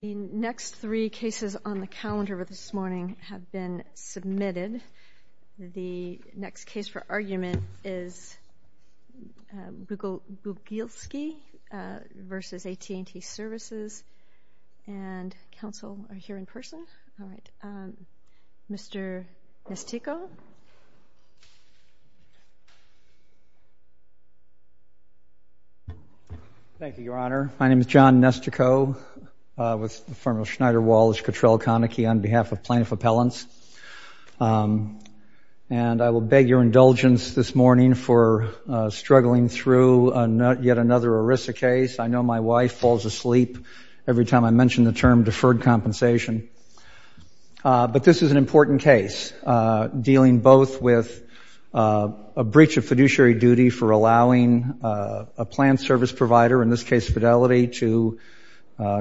The next three cases on the calendar this morning have been submitted. The next case for argument is Bugielski v. AT&T Services, and counsel are here in person. Mr. Nestico? Thank you, Your Honor. My name is John Nestico with the firm of Schneider Walsh Cottrell Konecki on behalf of Plaintiff Appellants, and I will beg your indulgence this morning for struggling through yet another ERISA case. I know my wife falls asleep every time I mention the term deferred compensation, but this is an important case dealing both with a breach of fiduciary duty for allowing a planned service provider, in this case Fidelity, to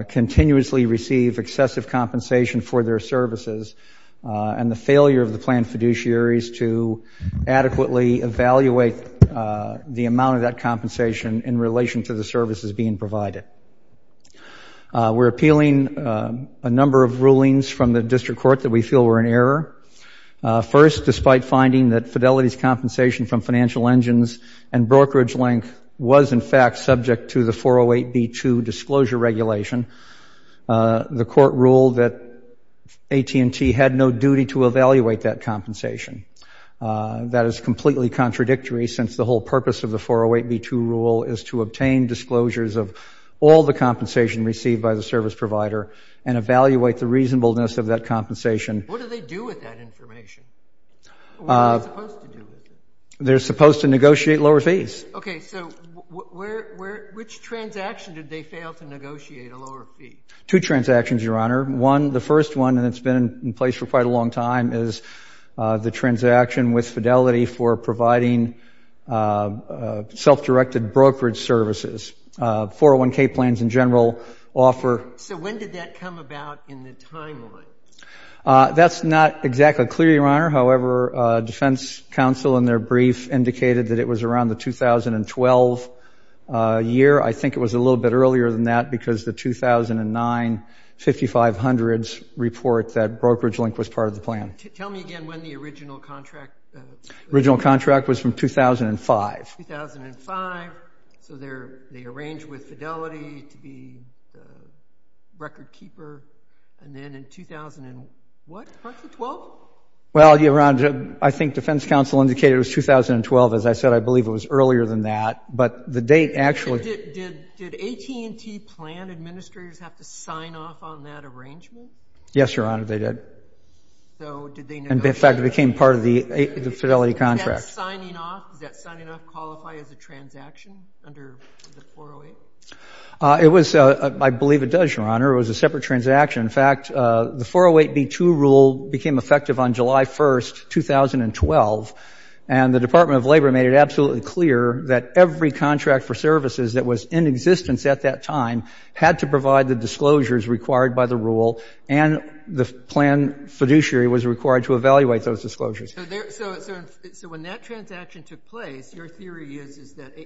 continuously receive excessive compensation for their services and the failure of the planned fiduciaries to adequately evaluate the amount of that compensation in relation to the services being provided. We're appealing a number of rulings from the district court that we feel were in error. First, despite finding that Fidelity's compensation from financial engines and brokerage link was, in fact, subject to the 408b2 disclosure regulation, the court ruled that AT&T had no duty to evaluate that compensation. That is completely contradictory since the whole purpose of the 408b2 rule is to obtain disclosures of all the compensation received by the service provider and evaluate the reasonableness of that compensation. What do they do with that information? What are they supposed to do with it? They're supposed to negotiate lower fees. Okay. So which transaction did they fail to negotiate a lower fee? Two transactions, Your Honor. One, the first one, and it's been in place for quite a long time, is the transaction with Fidelity for providing self-directed brokerage services, 401k plans in general offer. So when did that come about in the timeline? That's not exactly clear, Your Honor. However, defense counsel in their brief indicated that it was around the 2012 year. I think it was a little bit earlier than that because the 2009 5500s report that brokerage link was part of the plan. Tell me again when the original contract was. Original contract was from 2005. 2005. So they arranged with Fidelity to be the record keeper. And then in 2000 and what? 2012? Well, Your Honor, I think defense counsel indicated it was 2012. As I said, I believe it was earlier than that. But the date actually — So did AT&T plan administrators have to sign off on that arrangement? Yes, Your Honor. They did. So did they negotiate — In fact, it became part of the Fidelity contract. Does that signing off qualify as a transaction under the 408? It was — I believe it does, Your Honor. It was a separate transaction. In fact, the 408B2 rule became effective on July 1st, 2012, and the Department of Labor made it absolutely clear that every contract for services that was in existence at that time had to provide the disclosures required by the rule, and the plan fiduciary was required to evaluate those disclosures. So when that transaction took place, your theory is that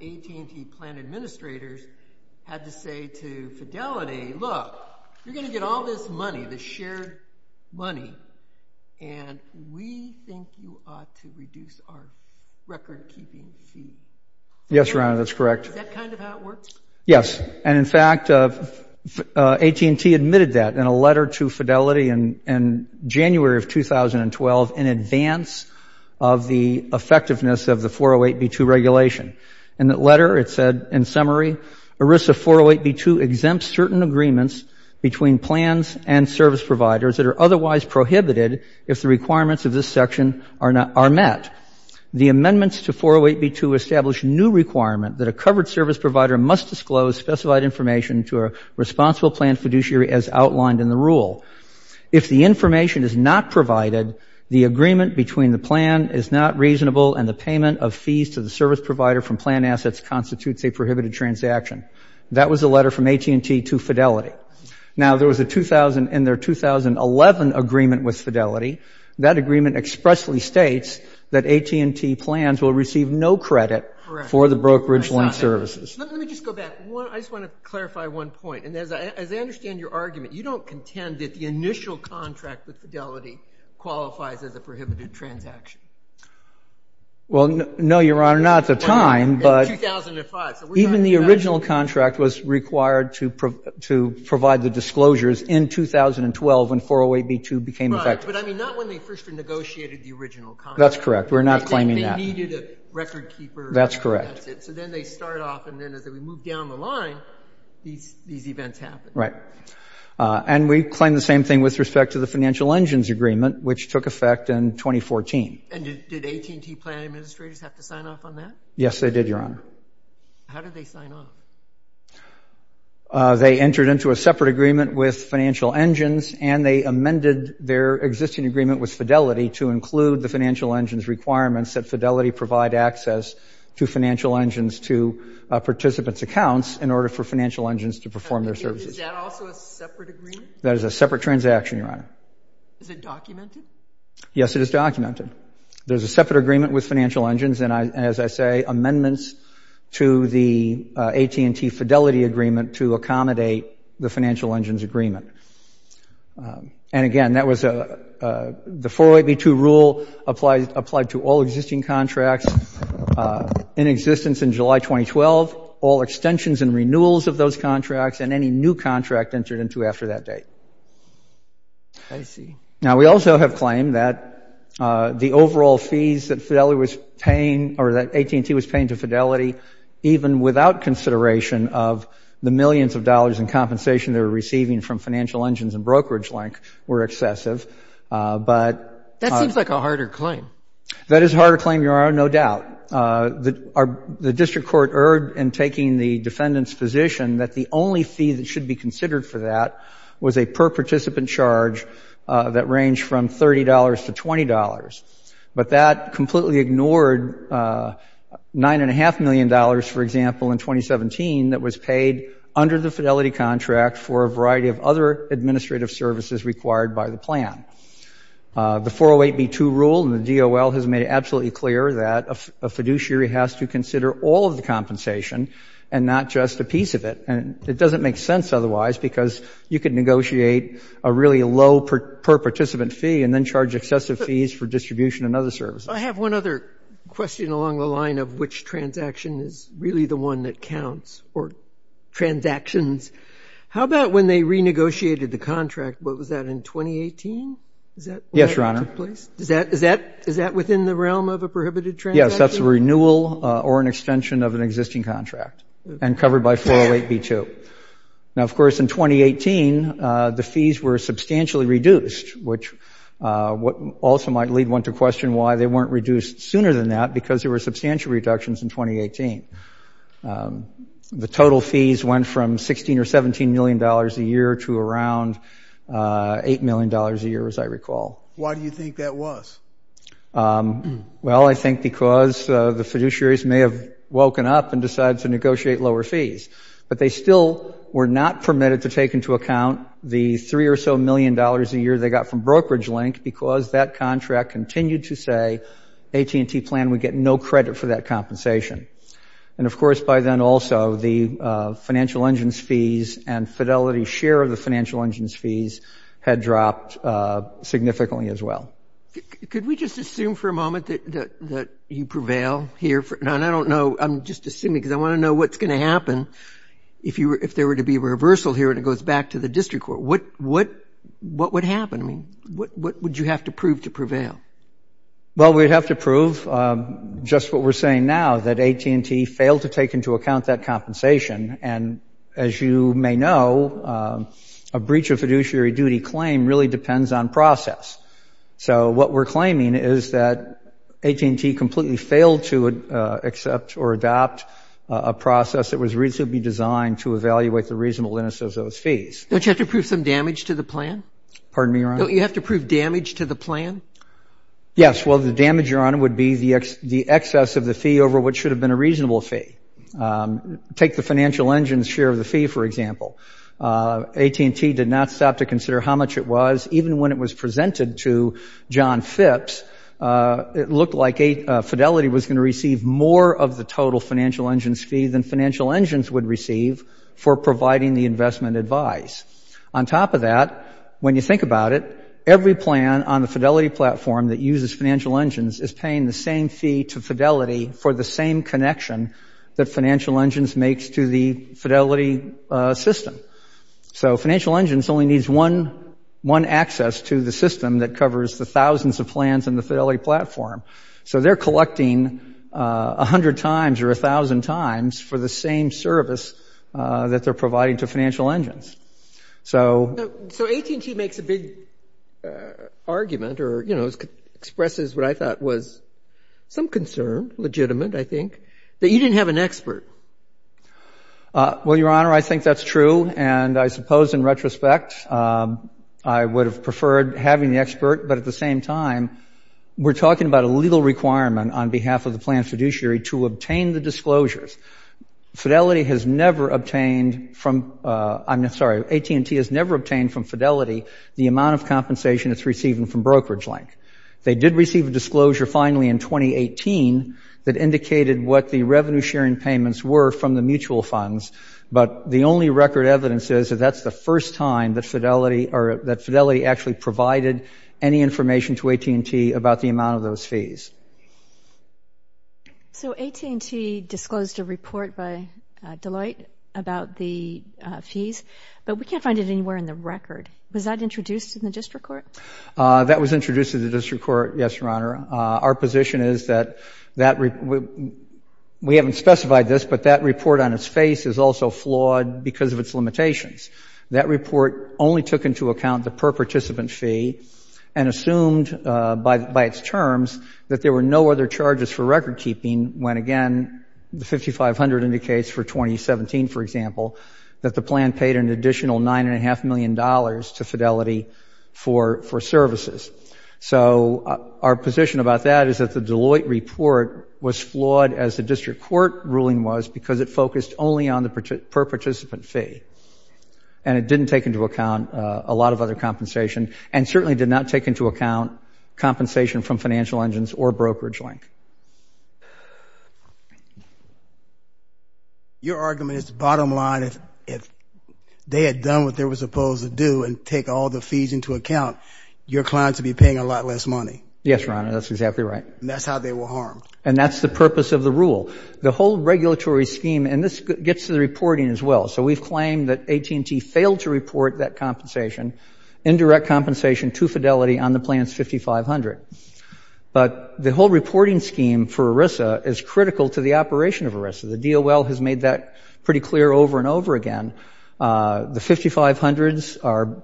AT&T plan administrators had to say to Fidelity, look, you're going to get all this money, this shared money, and we think you ought to reduce our record-keeping fee. Yes, Your Honor, that's correct. Is that kind of how it works? Yes. And in fact, AT&T admitted that in a letter to Fidelity in January of 2012 in advance of the effectiveness of the 408B2 regulation. In that letter, it said, in summary, ERISA 408B2 exempts certain agreements between plans and service providers that are otherwise prohibited if the requirements of this section are met. The amendments to 408B2 establish a new requirement that a covered service provider must disclose specified information to a responsible plan fiduciary as outlined in the rule. If the information is not provided, the agreement between the plan is not reasonable and the letter from plan assets constitutes a prohibited transaction. That was the letter from AT&T to Fidelity. Now there was a 2000 and their 2011 agreement with Fidelity. That agreement expressly states that AT&T plans will receive no credit for the brokerage loan services. Let me just go back. I just want to clarify one point. And as I understand your argument, you don't contend that the initial contract with Fidelity qualifies as a prohibited transaction. Well, no, Your Honor, not at the time, but even the original contract was required to provide the disclosures in 2012 when 408B2 became effective. Right, but I mean, not when they first negotiated the original contract. That's correct. We're not claiming that. They needed a record keeper. That's correct. So then they start off and then as we move down the line, these events happen. Right. And we claim the same thing with respect to the financial engines agreement, which took effect in 2014. And did AT&T plan administrators have to sign off on that? Yes, they did, Your Honor. How did they sign off? They entered into a separate agreement with financial engines and they amended their existing agreement with Fidelity to include the financial engines requirements that Fidelity provide access to financial engines to participants' accounts in order for financial engines to perform their services. Is that also a separate agreement? That is a separate transaction, Your Honor. Is it documented? Yes, it is documented. There's a separate agreement with financial engines and, as I say, amendments to the AT&T Fidelity agreement to accommodate the financial engines agreement. And again, that was the 408B2 rule applied to all existing contracts in existence in July 2012, all extensions and renewals of those contracts, and any new contract entered into after that date. I see. Now, we also have claimed that the overall fees that Fidelity was paying or that AT&T was paying to Fidelity, even without consideration of the millions of dollars in compensation they were receiving from financial engines and brokerage link, were excessive. But — That seems like a harder claim. That is a harder claim, Your Honor, no doubt. The district court erred in taking the defendant's position that the only fee that should be that ranged from $30 to $20, but that completely ignored $9.5 million, for example, in 2017 that was paid under the Fidelity contract for a variety of other administrative services required by the plan. The 408B2 rule in the DOL has made it absolutely clear that a fiduciary has to consider all of the compensation and not just a piece of it. And it doesn't make sense otherwise, because you could negotiate a really low per-participant fee and then charge excessive fees for distribution and other services. I have one other question along the line of which transaction is really the one that counts, or transactions. How about when they renegotiated the contract, what was that, in 2018? Is that — Yes, Your Honor. — when that took place? Is that within the realm of a prohibited transaction? Yes. That's a renewal or an extension of an existing contract, and covered by 408B2. Now, of course, in 2018, the fees were substantially reduced, which also might lead one to question why they weren't reduced sooner than that, because there were substantial reductions in 2018. The total fees went from $16 or $17 million a year to around $8 million a year, as I recall. Why do you think that was? Well, I think because the fiduciaries may have woken up and decided to negotiate lower fees. But they still were not permitted to take into account the $3 or so million a year they got from brokerage link, because that contract continued to say AT&T plan would get no credit for that compensation. And of course, by then also, the financial engines fees and fidelity share of the financial engines fees had dropped significantly as well. Could we just assume for a moment that you prevail here? I don't know. I'm just assuming because I want to know what's going to happen if there were to be a reversal here and it goes back to the district court. What would happen? I mean, what would you have to prove to prevail? Well, we'd have to prove just what we're saying now, that AT&T failed to take into account that compensation. And as you may know, a breach of fiduciary duty claim really depends on process. So what we're claiming is that AT&T completely failed to accept or adopt a process that was reasonably designed to evaluate the reasonableness of those fees. Don't you have to prove some damage to the plan? Pardon me, Your Honor? Don't you have to prove damage to the plan? Yes. Well, the damage, Your Honor, would be the excess of the fee over what should have been a reasonable fee. Take the financial engine's share of the fee, for example. AT&T did not stop to consider how much it was. Even when it was presented to John Phipps, it looked like Fidelity was going to receive more of the total financial engine's fee than financial engines would receive for providing the investment advice. On top of that, when you think about it, every plan on the Fidelity platform that uses financial engines is paying the same fee to Fidelity for the same connection that financial engines makes to the Fidelity system. So financial engines only needs one access to the system that covers the thousands of plans in the Fidelity platform. So they're collecting 100 times or 1,000 times for the same service that they're providing to financial engines. So AT&T makes a big argument or expresses what I thought was some concern, legitimate, I think, that you didn't have an expert. Well, Your Honor, I think that's true. And I suppose in retrospect, I would have preferred having the expert. But at the same time, we're talking about a legal requirement on behalf of the planned fiduciary to obtain the disclosures. Fidelity has never obtained from, I'm sorry, AT&T has never obtained from Fidelity the amount of compensation it's receiving from Brokerage Link. They did receive a disclosure finally in 2018 that indicated what the revenue sharing payments were from the mutual funds. But the only record evidence is that that's the first time that Fidelity actually provided any information to AT&T about the amount of those fees. So AT&T disclosed a report by Deloitte about the fees, but we can't find it anywhere in the record. Was that introduced in the district court? That was introduced in the district court, yes, Your Honor. Our position is that we haven't specified this, but that report on its face is also flawed because of its limitations. That report only took into account the per-participant fee and assumed by its terms that the fee there were no other charges for record keeping when, again, the 5,500 indicates for 2017, for example, that the plan paid an additional $9.5 million to Fidelity for services. So our position about that is that the Deloitte report was flawed as the district court ruling was because it focused only on the per-participant fee and it didn't take into account a lot of other compensation and certainly did not take into account compensation from financial engines or brokerage link. Your argument is bottom line, if they had done what they were supposed to do and take all the fees into account, your clients would be paying a lot less money. Yes, Your Honor, that's exactly right. That's how they were harmed. And that's the purpose of the rule. The whole regulatory scheme, and this gets to the reporting as well, so we've claimed that AT&T failed to report that compensation, indirect compensation to Fidelity on the plan's 5,500. But the whole reporting scheme for ERISA is critical to the operation of ERISA. The DOL has made that pretty clear over and over again. The 5,500s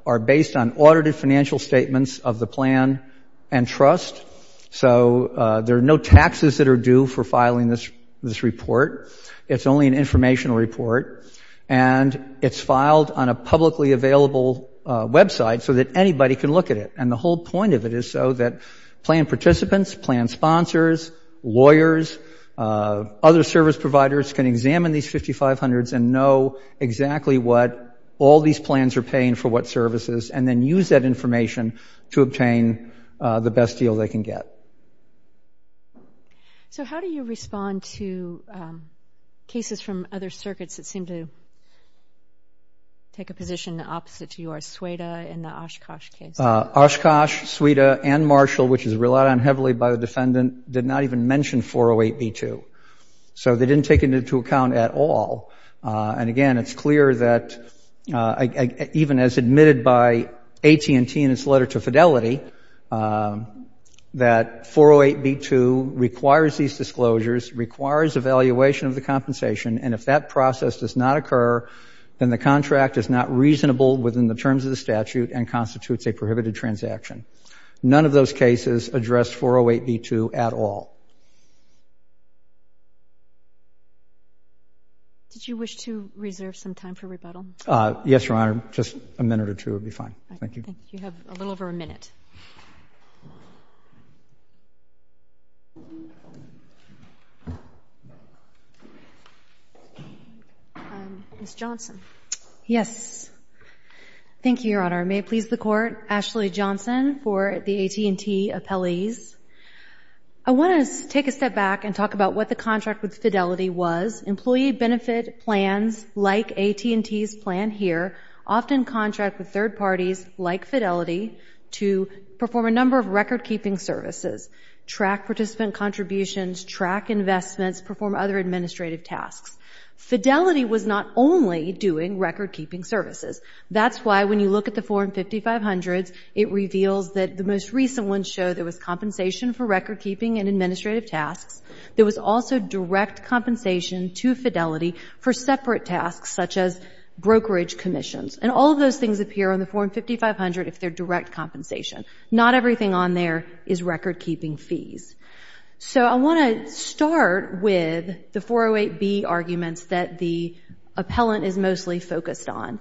are based on audited financial statements of the plan and trust. So there are no taxes that are due for filing this report. It's only an informational report. And it's filed on a publicly available website so that anybody can look at it. And the whole point of it is so that plan participants, plan sponsors, lawyers, other service providers can examine these 5,500s and know exactly what all these plans are paying for what services and then use that information to obtain the best deal they can get. So how do you respond to cases from other circuits that seem to take a position opposite to yours, SUEDA and the Oshkosh case? Oshkosh, SUEDA, and Marshall, which is relied on heavily by the defendant, did not even mention 408b2. So they didn't take it into account at all. And again, it's clear that even as admitted by AT&T in its letter to Fidelity that 408b2 requires these disclosures, requires evaluation of the compensation. And if that process does not occur, then the contract is not reasonable within the terms of the statute and constitutes a prohibited transaction. None of those cases addressed 408b2 at all. Did you wish to reserve some time for rebuttal? Yes, Your Honor. Just a minute or two would be fine. Thank you. You have a little over a minute. Ms. Johnson. Yes. Thank you, Your Honor. May it please the Court, Ashley Johnson for the AT&T appellees. I want to take a step back and talk about what the contract with Fidelity was. Employee benefit plans like AT&T's plan here often contract with third parties like Fidelity to perform a number of record-keeping services, track participant contributions, track investments, perform other administrative tasks. Fidelity was not only doing record-keeping services. That's why when you look at the Form 5500s, it reveals that the most recent ones show there was compensation for record-keeping and administrative tasks. There was also direct compensation to Fidelity for separate tasks such as brokerage commissions. And all of those things appear on the Form 5500 if they're direct compensation. Not everything on there is record-keeping fees. So I want to start with the 408B arguments that the appellant is mostly focused on.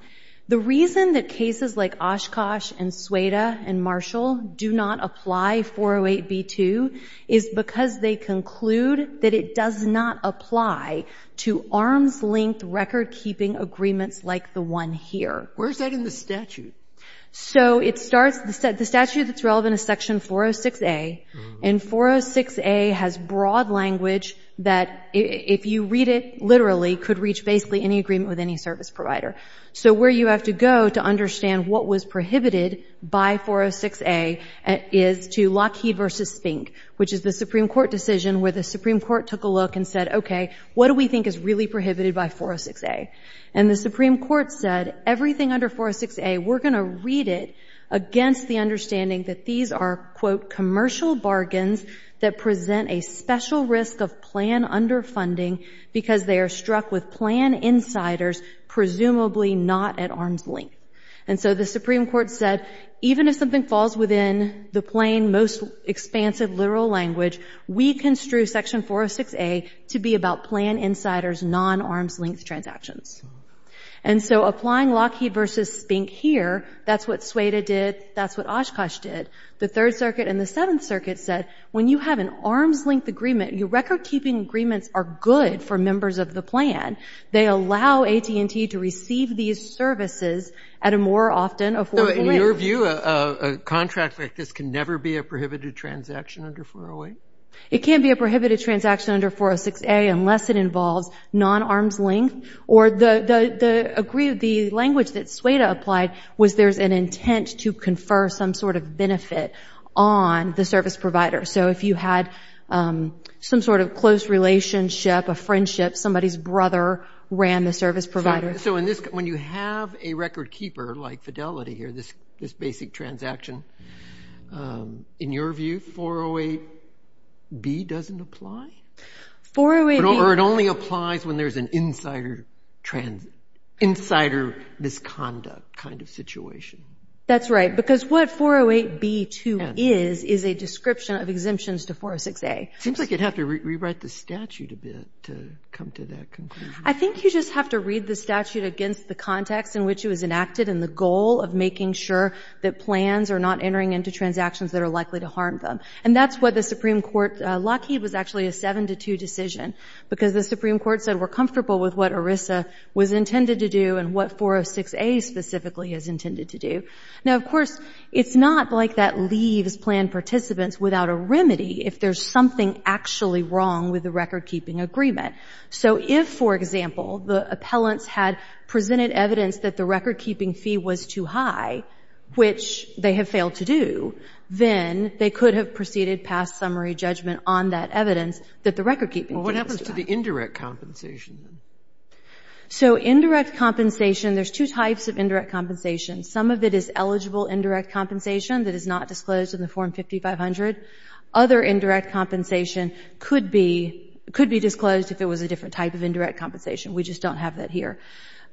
The reason that cases like Oshkosh and Sueda and Marshall do not apply 408B2 is because they conclude that it does not apply to arm's-length record-keeping agreements like the one here. Where's that in the statute? So the statute that's relevant is Section 406A. And 406A has broad language that, if you read it literally, could reach basically any agreement with any service provider. So where you have to go to understand what was prohibited by 406A is to Lockheed v. Fink, which is the Supreme Court decision where the Supreme Court took a look and said, okay, what do we think is really prohibited by 406A? And the Supreme Court said, everything under 406A, we're going to read it against the understanding that these are, quote, commercial bargains that present a special risk of plan underfunding because they are struck with plan insiders, presumably not at arm's-length. And so the Supreme Court said, even if something falls within the plain, most expansive literal language, we construe Section 406A to be about plan insiders, non-arm's-length transactions. And so applying Lockheed v. Fink here, that's what Sueda did, that's what Oshkosh did. The Third Circuit and the Seventh Circuit said, when you have an arm's-length agreement, your record-keeping agreements are good for members of the plan. They allow AT&T to receive these services at a more often-affordable rate. In your view, a contract like this can never be a prohibited transaction under 408? It can't be a prohibited transaction under 406A unless it involves non-arm's-length or the language that Sueda applied was there's an intent to confer some sort of benefit on the service provider. So if you had some sort of close relationship, a friendship, somebody's brother ran the service provider. When you have a record-keeper like Fidelity here, this basic transaction, in your view, 408B doesn't apply? Or it only applies when there's an insider misconduct kind of situation? That's right, because what 408B2 is is a description of exemptions to 406A. It seems like you'd have to rewrite the statute a bit to come to that conclusion. I think you just have to read the statute against the context in which it was enacted and the goal of making sure that plans are not entering into transactions that are likely to harm them. And that's what the Supreme Court, Lockheed was actually a 7-2 decision, because the Supreme Court said we're comfortable with what ERISA was intended to do and what 406A specifically is intended to do. Now, of course, it's not like that leaves plan participants without a remedy if there's something actually wrong with the record-keeping agreement. So if, for example, the appellants had presented evidence that the record-keeping fee was too high, which they have failed to do, then they could have proceeded past summary judgment on that evidence that the record-keeping fee was too high. Well, what happens to the indirect compensation? So indirect compensation, there's two types of indirect compensation. Some of it is eligible indirect compensation that is not disclosed in the Form 5500. Other indirect compensation could be disclosed if it was a different type of indirect compensation. We just don't have that here.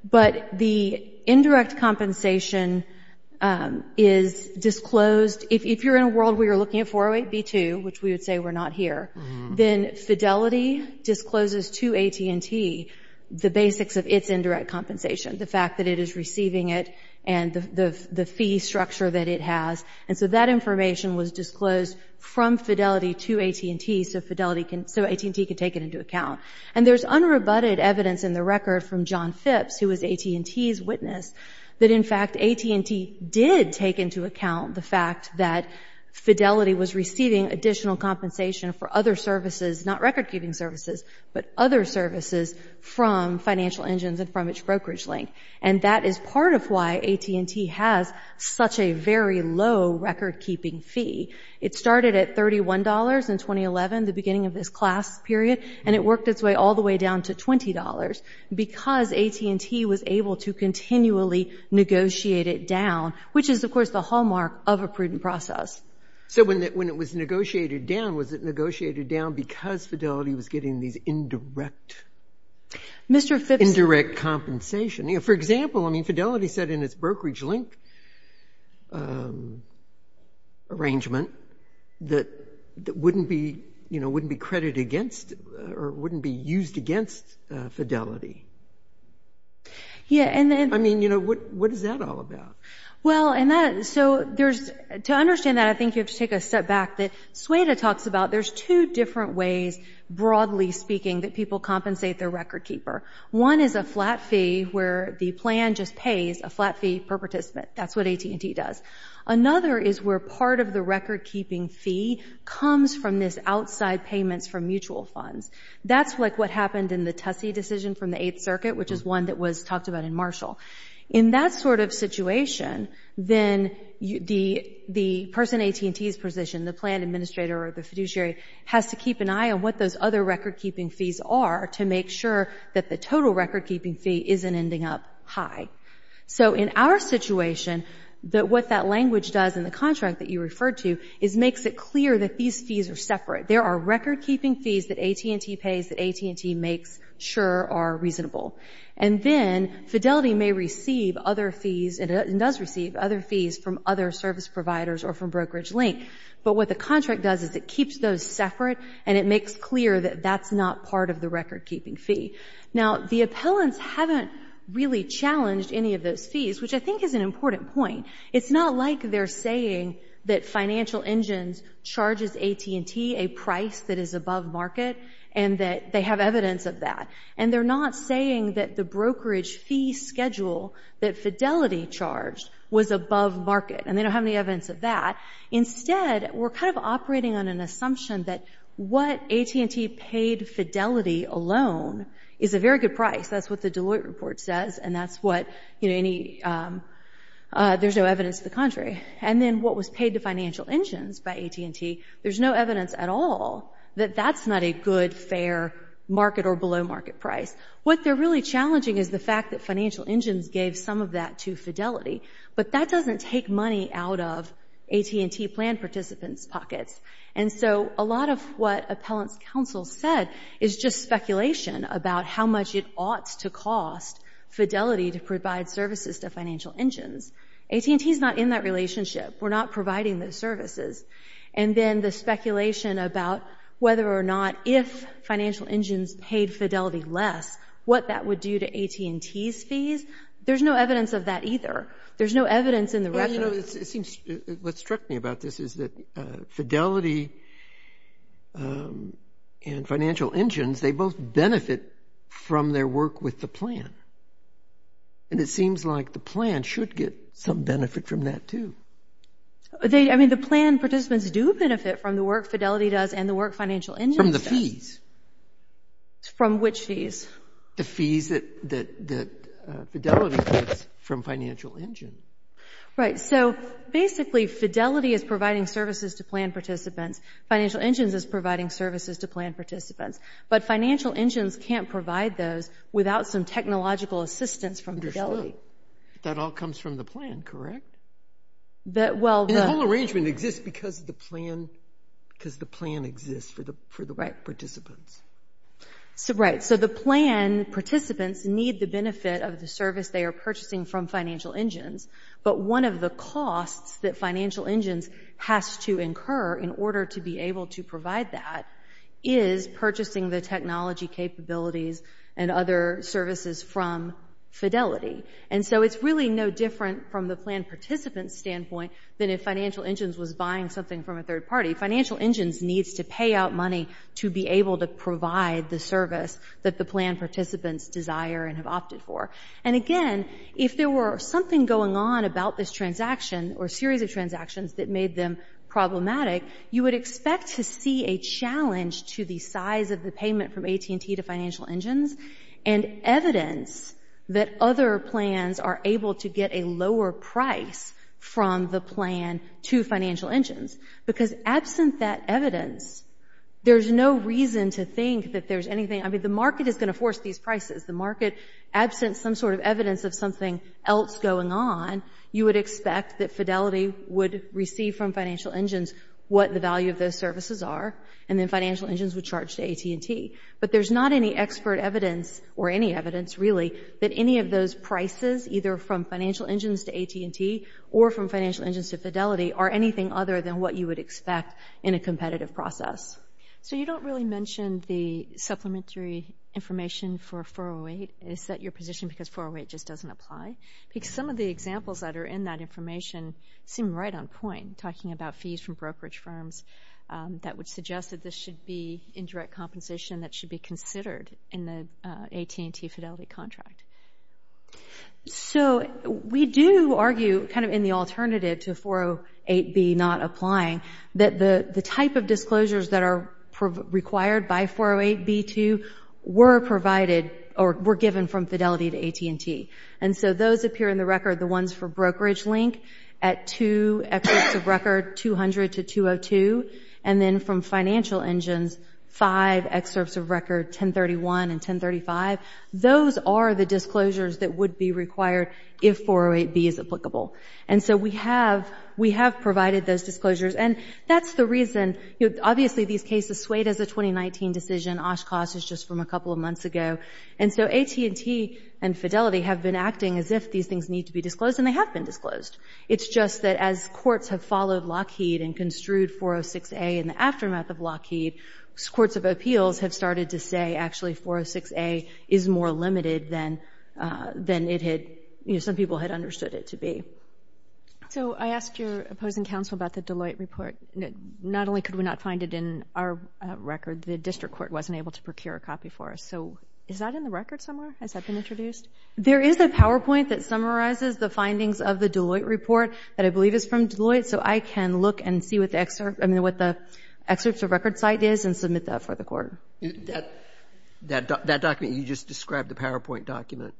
But the indirect compensation is disclosed. If you're in a world where you're looking at 408B2, which we would say we're not here, then Fidelity discloses to AT&T the basics of its indirect compensation, the fact that it is receiving it and the fee structure that it has. And so that information was disclosed from Fidelity to AT&T so AT&T could take it into account. And there's unrebutted evidence in the record from John Phipps, who was AT&T's witness, that, in fact, AT&T did take into account the fact that Fidelity was receiving additional compensation for other services, not record-keeping services, but other services from Financial Engines and from its brokerage link. And that is part of why AT&T has such a very low record-keeping fee. It started at $31 in 2011, the beginning of this class period, and it worked its way all the way down to $20 because AT&T was able to continually negotiate it down, which is, of course, the hallmark of a prudent process. So when it was negotiated down, was it negotiated down because Fidelity was getting these indirect... Indirect compensation. For example, I mean, Fidelity said in its brokerage link arrangement that wouldn't be credited against or wouldn't be used against Fidelity. I mean, what is that all about? Well, to understand that, I think you have to take a step back. Sueda talks about there's two different ways, broadly speaking, that people compensate their record-keeper. One is a flat fee where the plan just pays a flat fee per participant. That's what AT&T does. Another is where part of the record-keeping fee comes from this outside payments from mutual funds. That's like what happened in the Tussey decision from the Eighth Circuit, which is one that was talked about in Marshall. In that sort of situation, then the person in AT&T's position, the plan administrator or the fiduciary, has to keep an eye on what those other record-keeping fees are to make sure that the total record-keeping fee isn't ending up high. So in our situation, what that language does in the contract that you referred to is makes it clear that these fees are separate. There are record-keeping fees that AT&T pays that AT&T makes sure are reasonable. And then Fidelity may receive other fees and does receive other fees from other service providers or from brokerage link. But what the contract does is it keeps those separate, and it makes clear that that's not part of the record-keeping fee. Now, the appellants haven't really challenged any of those fees, which I think is an important point. It's not like they're saying that Financial Engines charges AT&T a price that is above market and that they have evidence of that. And they're not saying that the brokerage fee schedule that Fidelity charged was above market and they don't have any evidence of that. Instead, we're kind of operating on an assumption that what AT&T paid Fidelity alone is a very good price. That's what the Deloitte report says, and there's no evidence to the contrary. And then what was paid to Financial Engines by AT&T, there's no evidence at all that that's not a good, fair market or below market price. What they're really challenging is the fact that Financial Engines gave some of that to Fidelity, but that doesn't take money out of AT&T plan participants' pockets. And so a lot of what appellants' counsel said is just speculation about how much it ought to cost Fidelity to provide services to Financial Engines. AT&T is not in that relationship. We're not providing those services. And then the speculation about whether or not if Financial Engines paid Fidelity less, what that would do to AT&T's fees, there's no evidence of that either. There's no evidence in the record. What struck me about this is that Fidelity and Financial Engines, they both benefit from their work with the plan. And it seems like the plan should get some benefit from that too. I mean, the plan participants do benefit from the work Fidelity does and the work Financial Engines does. From the fees. From which fees? The fees that Fidelity gets from Financial Engines. Right. So basically, Fidelity is providing services to plan participants. Financial Engines is providing services to plan participants. But Financial Engines can't provide those without some technological assistance from Fidelity. That all comes from the plan, correct? The whole arrangement exists because the plan exists for the participants. Right. So the plan participants need the benefit of the service they are purchasing from Financial Engines. But one of the costs that Financial Engines has to incur in order to be able to provide that is purchasing the technology capabilities and other services from Fidelity. And so it's really no different from the plan participant's standpoint than if Financial Engines was buying something from a third party. Financial Engines needs to pay out money to be able to provide the service that the plan participants desire and have opted for. And again, if there were something going on about this transaction or series of transactions that made them problematic, you would expect to see a challenge to the size of the payment from AT&T to Financial Engines and evidence that other plans are able to get a lower price from the plan to Financial Engines. Because absent that evidence, there's no reason to think that there's anything. I mean, the market is going to force these prices. The market, absent some sort of evidence of something else going on, you would expect that Fidelity would receive from Financial Engines what the value of those services are and then Financial Engines would charge to AT&T. But there's not any expert evidence or any evidence, really, that any of those prices, either from Financial Engines to AT&T or from Financial Engines to Fidelity, are anything other than what you would expect in a competitive process. So you don't really mention the supplementary information for 408. Is that your position, because 408 just doesn't apply? Because some of the examples that are in that information seem right on point, talking about fees from brokerage firms that would suggest that this should be indirect compensation that should be considered in the AT&T Fidelity contract. So we do argue, kind of in the alternative to 408B not applying, that the type of disclosures that are required by 408B2 were provided or were given from Fidelity to AT&T. And so those appear in the record, the ones for brokerage link, at two excerpts of record, 200 to 202. And then from Financial Engines, five excerpts of record, 1031 and 1035. Those are the disclosures that would be required if 408B is applicable. And so we have provided those disclosures. And that's the reason, obviously these cases swayed as a 2019 decision. Oshkosh is just from a couple of months ago. And so AT&T and Fidelity have been acting as if these things need to be disclosed, and they have been disclosed. It's just that as courts have followed Lockheed and construed 406A in the aftermath of Lockheed, courts of appeals have started to say actually 406A is more limited than it had, you know, some people had understood it to be. So I asked your opposing counsel about the Deloitte report. Not only could we not find it in our record, the district court wasn't able to procure a copy for us. So is that in the record somewhere? Has that been introduced? There is a PowerPoint that summarizes the findings of the Deloitte report that I believe is from Deloitte. So I can look and see what the excerpt, I mean what the excerpt of record site is and submit that for the court. That document you just described, the PowerPoint document,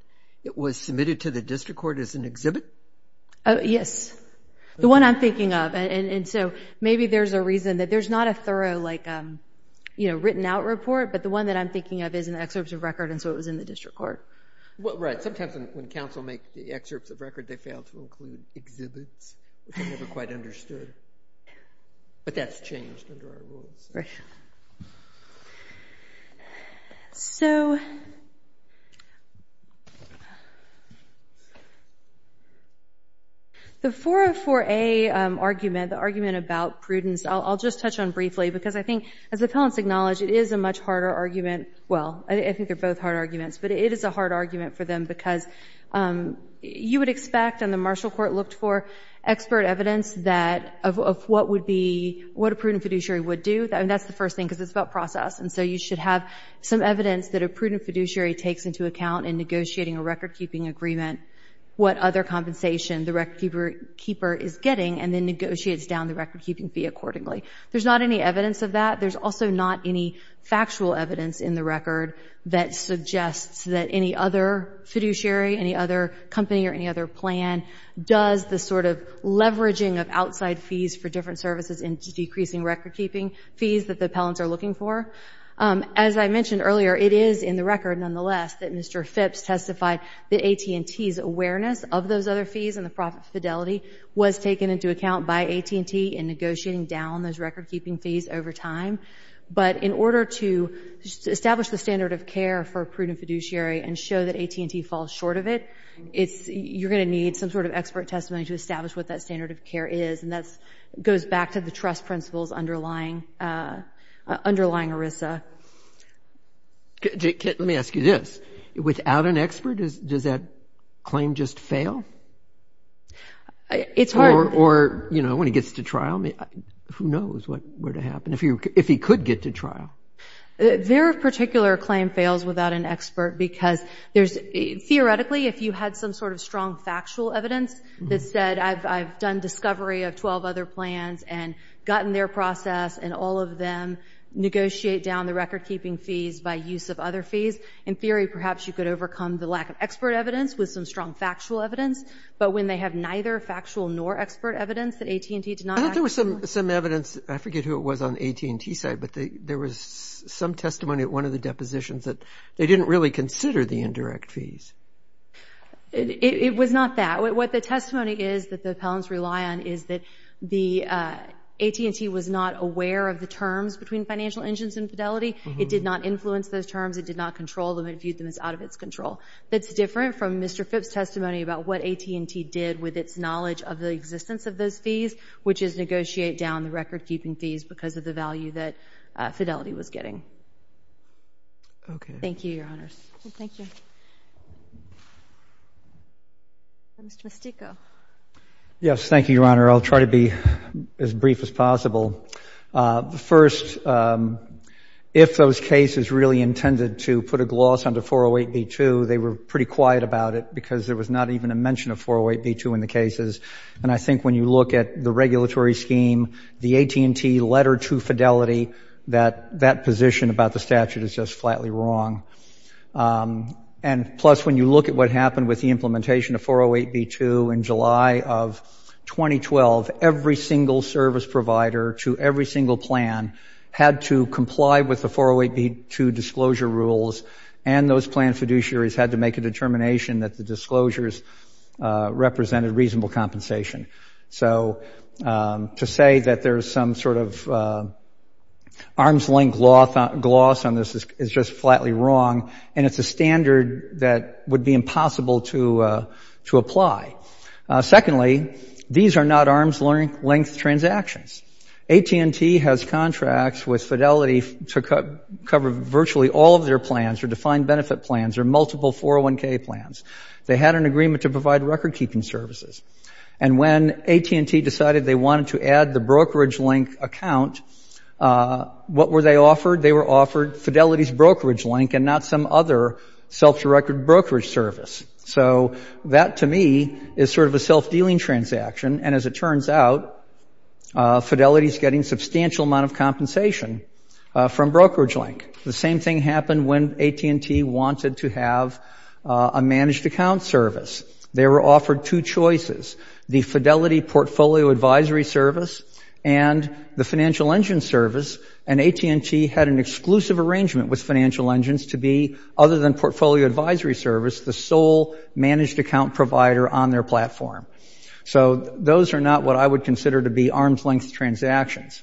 it was submitted to the district court as an exhibit? Yes. The one I'm thinking of. And so maybe there's a reason that there's not a thorough like, you know, written out report. But the one that I'm thinking of is an excerpt of record, and so it was in the district court. Right. Sometimes when counsel make the excerpts of record, they fail to include exhibits that they never quite understood. But that's changed under our rules. Right. So... The 404A argument, the argument about prudence, I'll just touch on briefly because I think, as the appellants acknowledge, it is a much harder argument. Well, I think they're both hard arguments, but it is a hard argument for them because you would expect, and the Marshall Court looked for, expert evidence that, of what would be, what a prudent fiduciary would do. And that's the first thing, because it's about process. And so you should have some evidence that a prudent fiduciary takes into account in negotiating a recordkeeping agreement, what other compensation the recordkeeper is getting, and then negotiates down the recordkeeping fee accordingly. There's not any evidence of that. There's also not any factual evidence in the record that suggests that any other fiduciary, any other company or any other plan does the sort of leveraging of outside fees for different services and decreasing recordkeeping fees that the appellants are looking for. As I mentioned earlier, it is in the record, nonetheless, that Mr. Phipps testified that AT&T's awareness of those other fees and the profit fidelity was taken into account by AT&T in negotiating down those recordkeeping fees over time. But in order to establish the standard of care for a prudent fiduciary and show that AT&T falls short of it, you're going to need some sort of expert testimony to establish what that standard of care is. And that goes back to the trust principles underlying ERISA. Let me ask you this. Without an expert, does that claim just fail? It's hard. Or, you know, when he gets to trial, who knows what would happen, if he could get to trial? Their particular claim fails without an expert because theoretically, if you had some sort of strong factual evidence that said I've done discovery of 12 other plans and gotten their process and all of them negotiate down the recordkeeping fees by use of other fees, in theory, perhaps you could overcome the lack of expert evidence with some strong factual evidence. But when they have neither factual nor expert evidence that AT&T did not... I thought there was some evidence. I forget who it was on the AT&T side, but there was some testimony at one of the depositions that they didn't really consider the indirect fees. It was not that. What the testimony is that the appellants rely on is that AT&T was not aware of the terms between financial engines and Fidelity. It did not influence those terms. It did not control them. It viewed them as out of its control. That's different from Mr. Phipps' testimony about what AT&T did with its knowledge of the existence of those fees, which is negotiate down the recordkeeping fees because of the value that Fidelity was getting. Thank you, Your Honors. Thank you. Mr. Mistico. Yes. Thank you, Your Honor. I'll try to be as brief as possible. First, if those cases really intended to put a gloss under 408b2, they were pretty quiet about it because there was not even a mention of 408b2 in the cases. And I think when you look at the regulatory scheme, the AT&T letter to Fidelity, that position about the statute is just flatly wrong. And plus, when you look at what happened with the implementation of 408b2 in July of 2012, every single service provider to every single plan had to comply with the 408b2 disclosure rules, and those plan fiduciaries had to make a determination that the disclosures represented reasonable compensation. So to say that there's some sort of arm's length gloss on this is just flatly wrong, and it's a standard that would be impossible to apply. Secondly, these are not arm's length transactions. AT&T has contracts with Fidelity to cover virtually all of their plans, their defined benefit plans, their multiple 401k plans. They had an agreement to provide recordkeeping services. And when AT&T decided they wanted to add the brokerage link account, what were they offered? They were offered Fidelity's brokerage link and not some other self-directed brokerage service. So that, to me, is sort of a self-dealing transaction. And as it turns out, Fidelity's getting substantial amount of compensation from brokerage link. The same thing happened when AT&T wanted to have a managed account service. They were offered two choices, the Fidelity Portfolio Advisory Service and the Financial Engine Service, and AT&T had an exclusive arrangement with Financial Engines to be, other than Portfolio Advisory Service, the sole managed account provider on their platform. So those are not what I would consider to be arm's length transactions.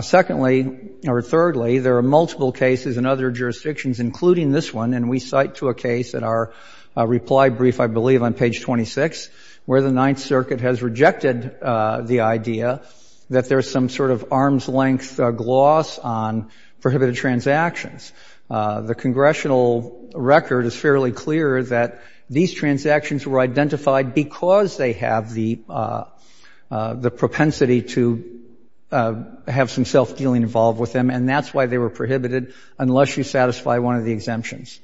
Secondly, or thirdly, there are multiple cases in other jurisdictions, including this one, and we cite to a case at our reply brief, I believe, on page 26, where the Ninth Circuit has rejected the idea that there's some sort of arm's length gloss on prohibited transactions. The congressional record is fairly clear that these transactions were identified because they have the propensity to have some self-dealing involved with them, and that's why they were prohibited, unless you satisfy one of the exemptions.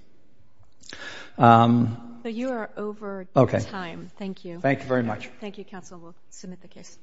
So you are over time. Thank you. Thank you very much. Thank you, Counsel Wolf. Submit the case.